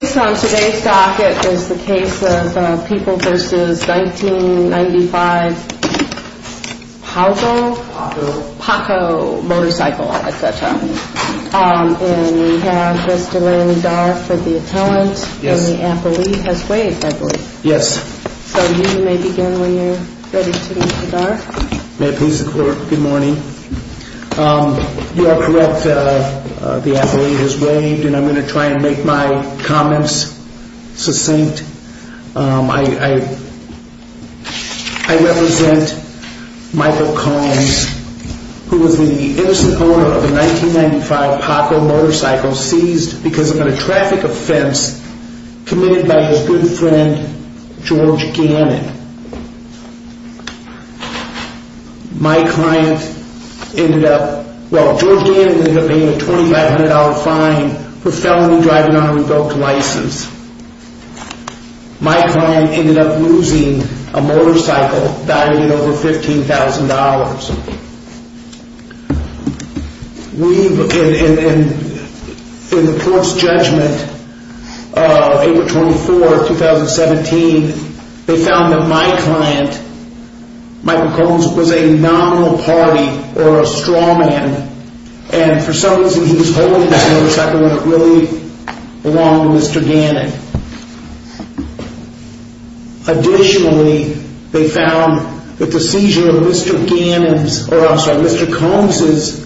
Based on today's docket is the case of People v. 1995 Paughco Motorcycle at that time. And we have Mr. Larry Darf of the appellant and the appellee has waived I believe. Yes. So you may begin when you're ready to Mr. Darf. May I please the court? Good morning. You are correct the appellee has waived and I'm going to try and make my comments succinct. I represent Michael Combs who was the innocent owner of a 1995 Paughco Motorcycle seized because of a traffic offense committed by his good friend George Gannon. My client ended up, well George Gannon ended up paying a $2500 fine for felony driving on a revoked license. My client ended up losing a motorcycle valued at over $15,000. In the court's judgment of April 24, 2017, they found that my client, Michael Combs, was a nominal party or a straw man and for some reason he was holding this motorcycle when it really belonged to Mr. Gannon. Additionally, they found that the seizure of Mr. Gannon's, or I'm sorry, Mr. Combs'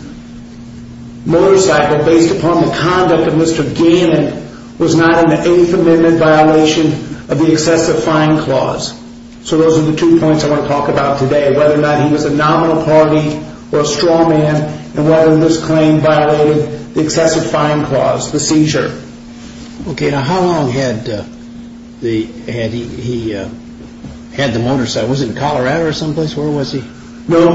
motorcycle based upon the conduct of Mr. Gannon was not an Eighth Amendment violation of the excessive fine clause. So those are the two points I want to talk about today, whether or not he was a nominal party or a straw man and whether this claim violated the excessive fine clause, the seizure. Okay, now how long had he had the motorcycle? Was it in Colorado or someplace? Where was he? No,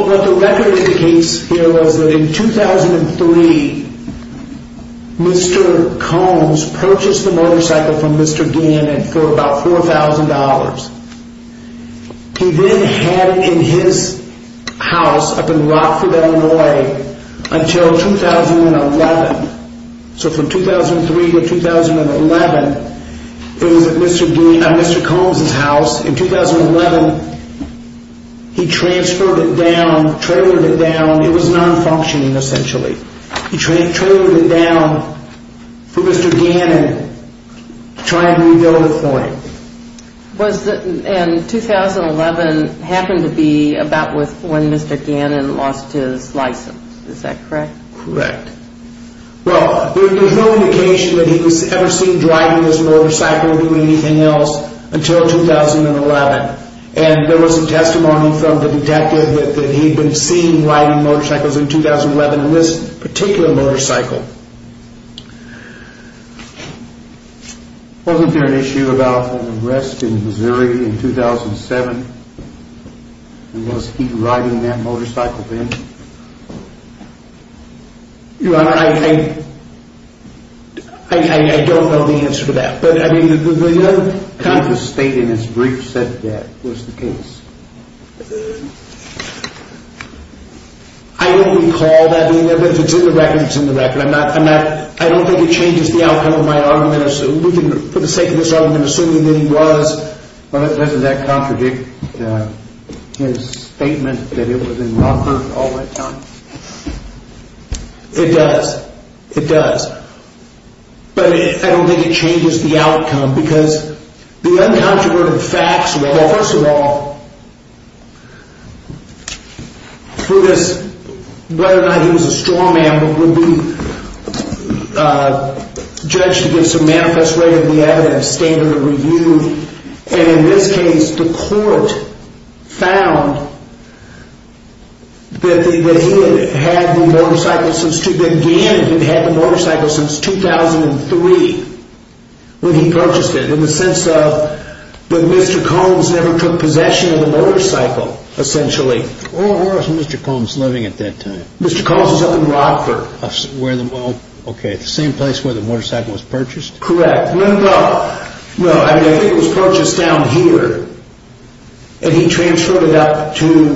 what the record indicates here was that in 2003, Mr. Combs purchased the motorcycle from Mr. Gannon for about $4,000. He then had it in his house up in Rockford, Illinois until 2011. So from 2003 to 2011, it was at Mr. Combs' house. In 2011, he transferred it down, trailered it down, it was non-functioning essentially. He trailered it down for Mr. Gannon trying to rebuild the point. And 2011 happened to be about when Mr. Gannon lost his license, is that correct? Correct. Well, there's no indication that he was ever seen driving his motorcycle or doing anything else until 2011. And there was a testimony from the detective that he'd been seen riding motorcycles in 2011 in this particular motorcycle. Wasn't there an issue about an arrest in Missouri in 2007? And was he riding that motorcycle then? Your Honor, I don't know the answer to that. The state in its brief said that was the case. I don't recall that being there, but if it's in the record, it's in the record. I don't think it changes the outcome of my argument. We can, for the sake of this argument, assume that he was. Doesn't that contradict his statement that it was in Rockford all that time? It does. It does. But I don't think it changes the outcome. Because the uncontroverted facts, well, first of all, through this, whether or not he was a straw man, would be judged against a manifest way of the evidence, standard of review. And in this case, the court found that Gannon had had the motorcycle since 2003 when he purchased it, in the sense that Mr. Combs never took possession of the motorcycle, essentially. Where was Mr. Combs living at that time? Mr. Combs was up in Rockford. Okay, the same place where the motorcycle was purchased? Correct. Well, I think it was purchased down here. And he transferred it out to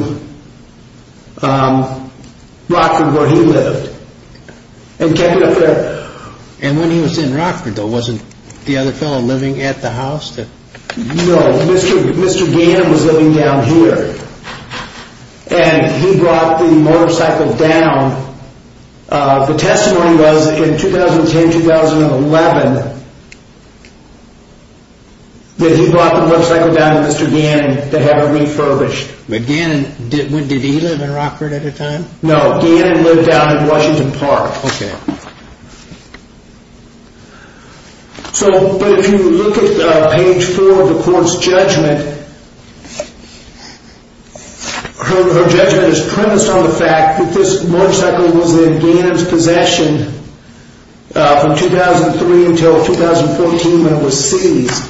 Rockford, where he lived, and kept it up there. And when he was in Rockford, though, wasn't the other fellow living at the house? No, Mr. Gannon was living down here. And he brought the motorcycle down. The testimony was in 2010, 2011, that he brought the motorcycle down to Mr. Gannon to have it refurbished. But Gannon, did he live in Rockford at the time? No, Gannon lived down in Washington Park. Oh, okay. So, but if you look at page four of the court's judgment, her judgment is premised on the fact that this motorcycle was in Gannon's possession from 2003 until 2014 when it was seized.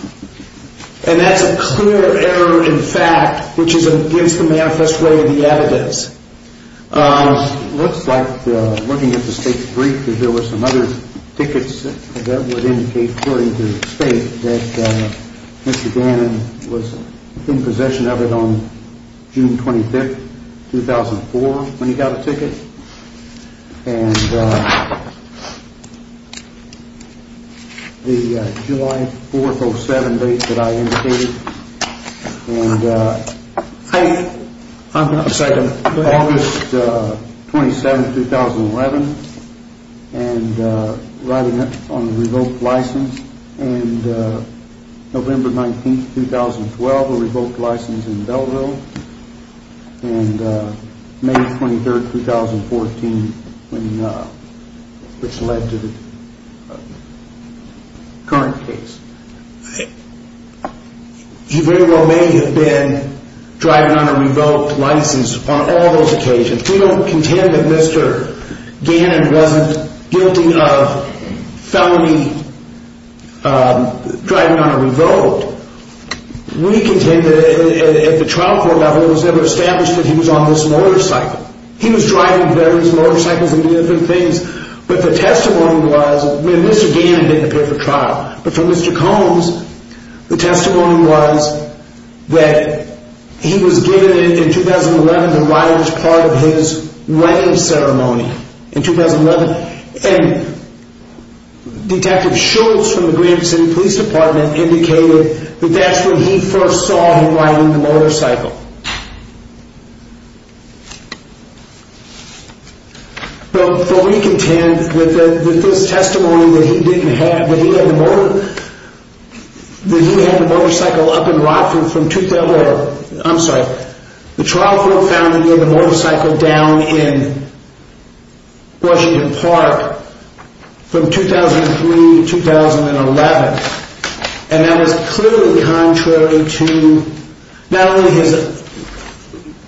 And that's a clear error in fact, which is against the manifest way of the evidence. It looks like, looking at the state's brief, that there were some other tickets that would indicate, according to the state, that Mr. Gannon was in possession of it on June 25th, 2004, when he got a ticket. And the July 4th, 07 date that I indicated. And August 27th, 2011, and riding on a revoked license. And November 19th, 2012, a revoked license in Belleville. And May 23rd, 2014, which led to the current case. You very well may have been driving on a revoked license on all those occasions. We don't contend that Mr. Gannon wasn't guilty of felony driving on a revoked. We contend that at the trial court level, it was never established that he was on this motorcycle. He was driving various motorcycles and different things. But the testimony was, and Mr. Gannon didn't appear for trial, but for Mr. Combs, the testimony was that he was given in 2011 to ride as part of his wedding ceremony in 2011. And Detective Schultz from the Grand City Police Department indicated that that's when he first saw him riding the motorcycle. But we contend that this testimony that he didn't have, that he had the motorcycle up in Rockford from, I'm sorry, the trial court found that he had the motorcycle down in Washington Park from 2003 to 2011. And that was clearly contrary to not only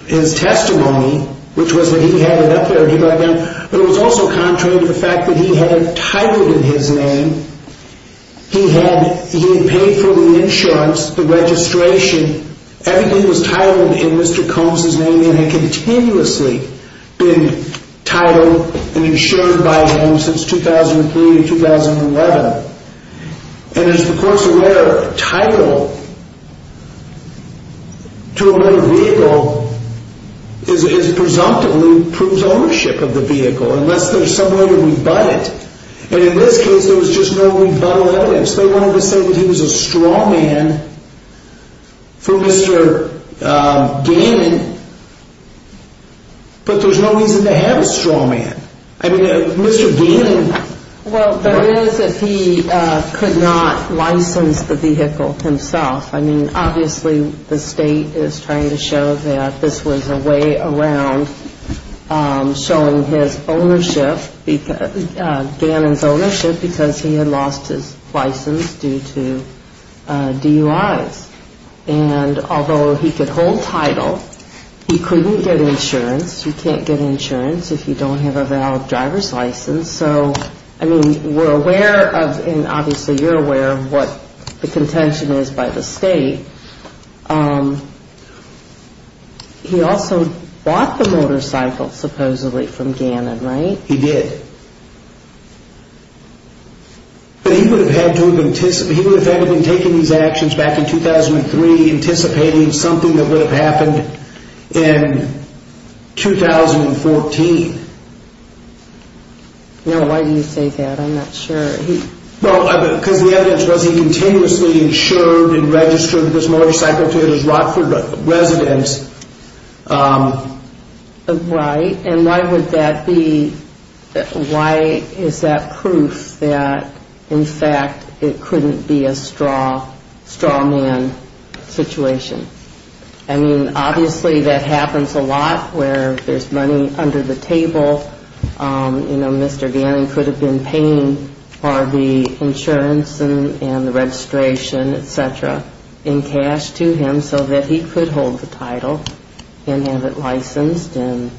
his testimony, which was that he had it up there and he had it down, but it was also contrary to the fact that he had it titled in his name. He had paid for the insurance, the registration, everything was titled in Mr. Combs' name and had continuously been titled and insured by him since 2003 to 2011. And as the court's aware, title to a motor vehicle is presumptively proves ownership of the vehicle, unless there's some way to rebut it. And in this case, there was just no rebuttal evidence. They wanted to say that he was a straw man for Mr. Gannon, but there's no reason to have a straw man. I mean, Mr. Gannon. Well, there is that he could not license the vehicle himself. I mean, obviously, the state is trying to show that this was a way around showing his ownership, Gannon's ownership, because he had lost his license due to DUIs. And although he could hold title, he couldn't get insurance. You can't get insurance if you don't have a valid driver's license. So, I mean, we're aware of, and obviously you're aware of what the contention is by the state. He also bought the motorcycle, supposedly, from Gannon, right? He did. But he would have had to have anticipated, he would have had to have been taking these actions back in 2003, anticipating something that would have happened in 2014. No, why do you say that? I'm not sure. Well, because the evidence was he continuously insured and registered this motorcycle to his Rockford residence. Right. And why would that be? Why is that proof that, in fact, it couldn't be a straw man situation? I mean, obviously, that happens a lot where there's money under the table. You know, Mr. Gannon could have been paying for the insurance and the registration, et cetera, in cash to him so that he could hold the title and have it licensed and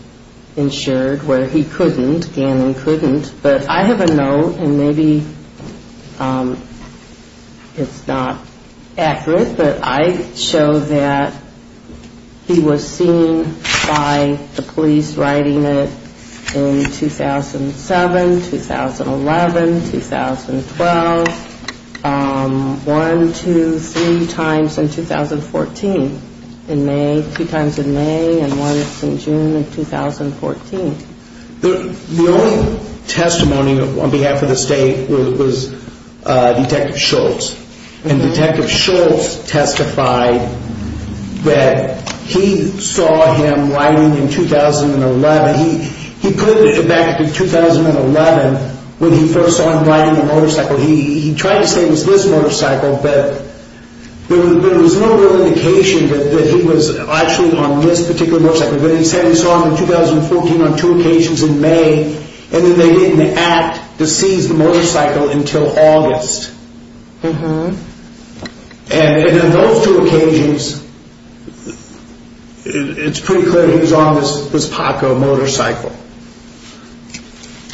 insured, where he couldn't. Gannon couldn't. But I have a note, and maybe it's not accurate, but I show that he was seen by the police riding it in 2007, 2011, 2012. One, two, three times in 2014, in May, two times in May, and once in June of 2014. The only testimony on behalf of the state was Detective Shultz. And Detective Shultz testified that he saw him riding in 2011. He put it back to 2011 when he first saw him riding a motorcycle. He tried to say it was this motorcycle, but there was no real indication that he was actually on this particular motorcycle. But he said he saw him in 2014 on two occasions in May, and then they didn't act to seize the motorcycle until August. And in those two occasions, it's pretty clear he was on this Paco motorcycle.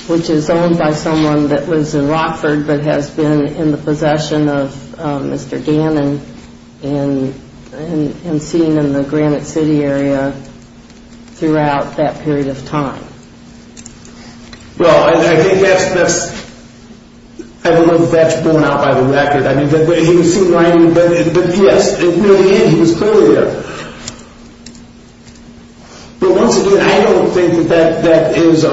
Which is owned by someone that was in Rockford but has been in the possession of Mr. Gannon and seen in the Granite City area throughout that period of time. Well, I think that's, I don't know if that's borne out by the record. I mean, he was seen riding, but yes, in the end, he was clearly there. But once again, I don't think that that is a,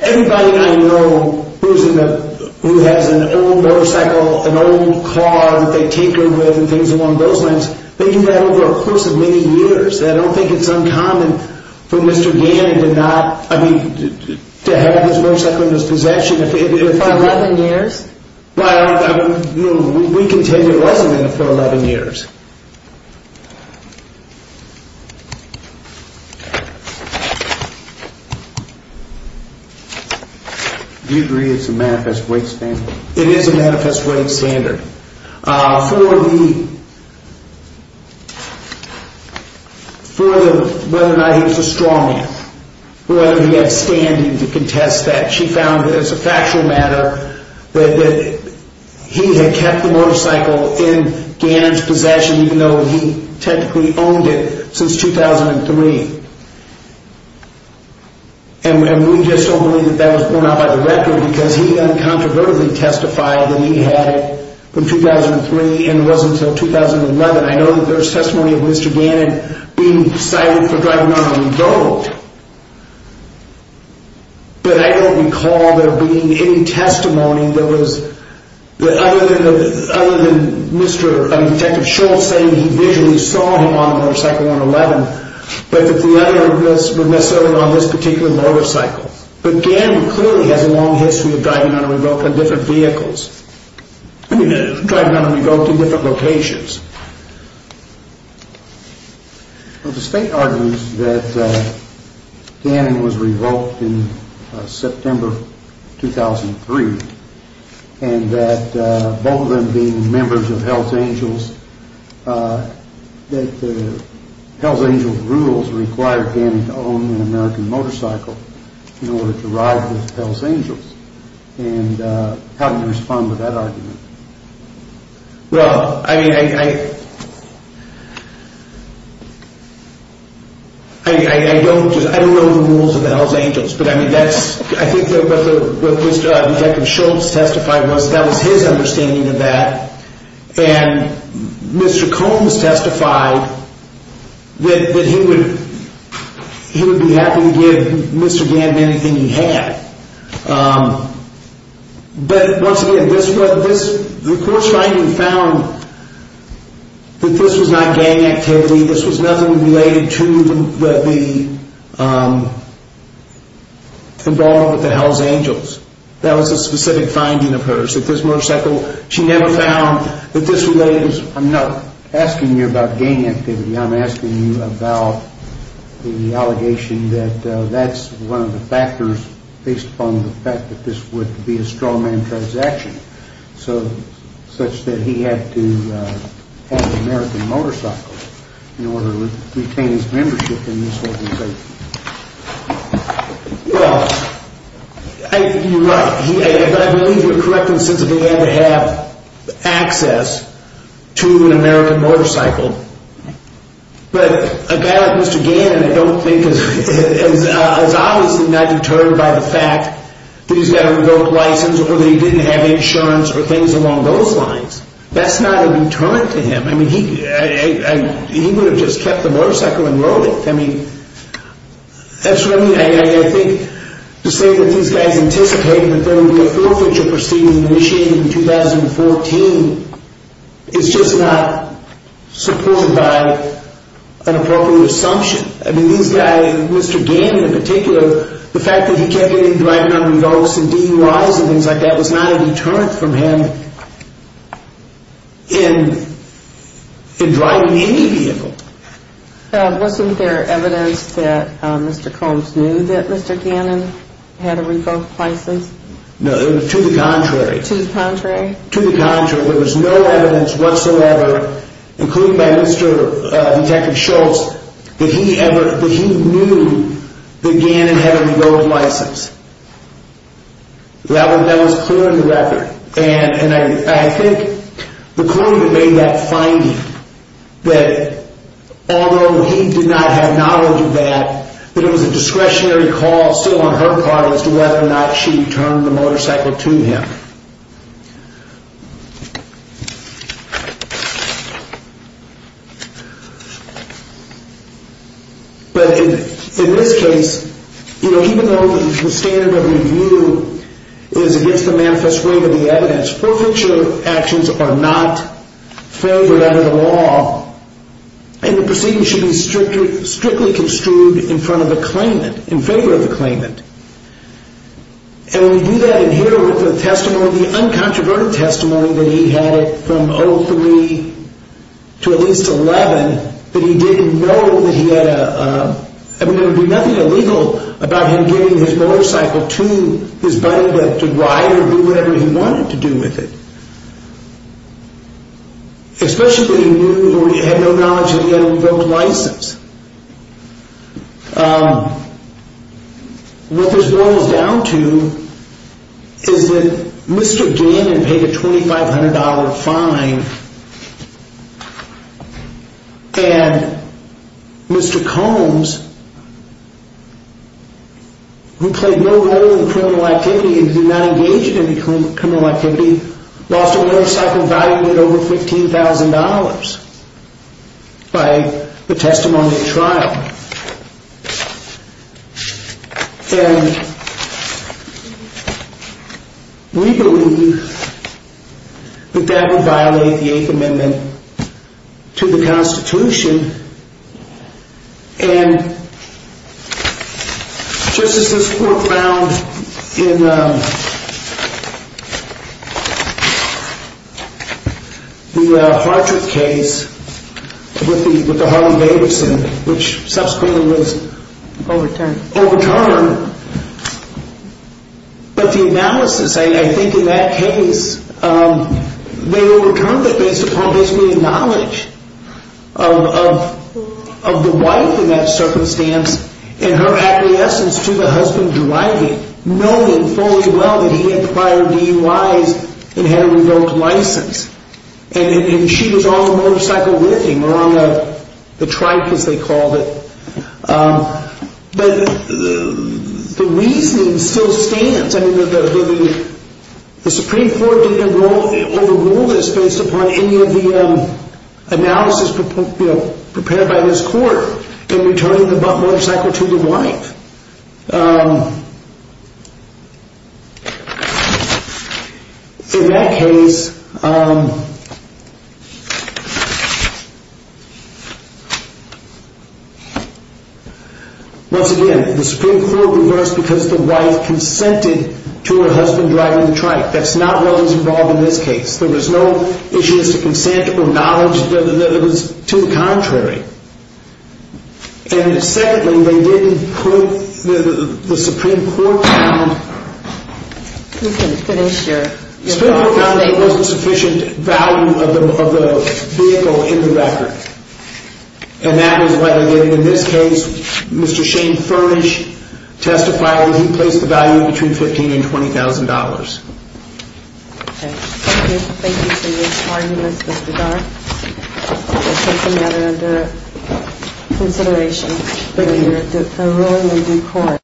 everybody I know who has an old motorcycle, an old car that they take her with and things along those lines, they do that over a course of many years. I don't think it's uncommon for Mr. Gannon to not, I mean, to have this motorcycle in his possession. For 11 years? Well, I mean, we can tell you it wasn't in it for 11 years. Do you agree it's a manifest weight standard? It is a manifest weight standard. For the, whether or not he was a straw man, whether he had standing to contest that, she found as a factual matter that he had kept the motorcycle in Gannon's possession even though he technically owned it since 2003. And we just don't believe that that was borne out by the record because he uncontroversially testified that he had it from 2003 and it wasn't until 2011. I know that there's testimony of Mr. Gannon being cited for driving on a road, but I don't recall there being any testimony that was, other than Mr., I mean, Detective Schultz saying he visually saw him on the motorcycle on 11, but that the other was necessarily on this particular motorcycle. But Gannon clearly has a long history of driving on a road on different vehicles, driving on a road to different locations. Well, the state argues that Gannon was revoked in September 2003 and that both of them being members of Hell's Angels, that Hell's Angels rules required Gannon to own an American motorcycle in order to ride with Hell's Angels. And how do you respond to that argument? Well, I mean, I don't know the rules of the Hell's Angels, but I think what Detective Schultz testified was that was his understanding of that. And Mr. Combs testified that he would be happy to give Mr. Gannon anything he had. But once again, the court's finding found that this was not gang activity, this was nothing related to the involvement with the Hell's Angels. That was a specific finding of hers, that this motorcycle, she never found that this related to... I'm not asking you about gang activity, I'm asking you about the allegation that that's one of the factors based upon the fact that this would be a straw man transaction, such that he had to have an American motorcycle in order to retain his membership in this organization. Well, you're right, but I believe you're correct in the sense that he had to have access to an American motorcycle. But a guy like Mr. Gannon, I don't think, is obviously not deterred by the fact that he's got a remote license or that he didn't have insurance or things along those lines. That's not a deterrent to him. I mean, he would have just kept the motorcycle and rode it. I mean, that's really... I think to say that these guys anticipate that there would be a forfeiture proceeding initiated in 2014 is just not supported by an appropriate assumption. I mean, these guys, Mr. Gannon in particular, the fact that he can't get in and drive an unregistered DUI or things like that was not a deterrent from him in driving any vehicle. Wasn't there evidence that Mr. Combs knew that Mr. Gannon had a remote license? No, it was to the contrary. To the contrary? To the contrary. There was no evidence whatsoever, including by Mr. Detective Schultz, that he knew that Gannon had a remote license. That was clear in the record. And I think McCoy made that finding that although he did not have knowledge of that, that it was a discretionary call still on her part as to whether or not she returned the motorcycle to him. But in this case, even though the standard of review is against the manifest waive of the evidence, forfeiture actions are not favored under the law and the proceeding should be strictly construed in favor of the claimant. And we do that in here with the testimony, the uncontroverted testimony that he had from 2003 to at least 2011 that he didn't know that he had a... his buddy that could ride or do whatever he wanted to do with it. Especially that he knew or he had no knowledge that he had a remote license. What this boils down to is that Mr. Gannon paid a $2,500 fine and Mr. Combs, who played no role in criminal activity and did not engage in any criminal activity, lost a motorcycle valued at over $15,000 by the testimony at trial. And we believe that that would violate the Eighth Amendment to the Constitution and just as this court found in the Hartrick case with the Harlan Davidson, which subsequently was overturned. But the analysis, I think in that case, they overturned it based upon basically the knowledge of the wife in that circumstance and her acquiescence to the husband driving, knowing fully well that he had prior DUIs and had a remote license. And she was on the motorcycle with him or on the trike as they called it. But the reasoning still stands. I mean, the Supreme Court didn't overrule this based upon any of the analysis prepared by this court in returning the motorcycle to the wife. In that case, once again, the Supreme Court reversed because the wife consented to her husband driving the trike. That's not what was involved in this case. There was no issue as to consent or knowledge. It was to the contrary. And secondly, they didn't put the Supreme Court found that there wasn't sufficient value of the vehicle in the record. And that was why in this case, Mr. Shane Furnish testified that he placed the value between $15,000 and $20,000. Thank you for your arguments, Mr. Dart. This is a matter under consideration for the ruling of the court.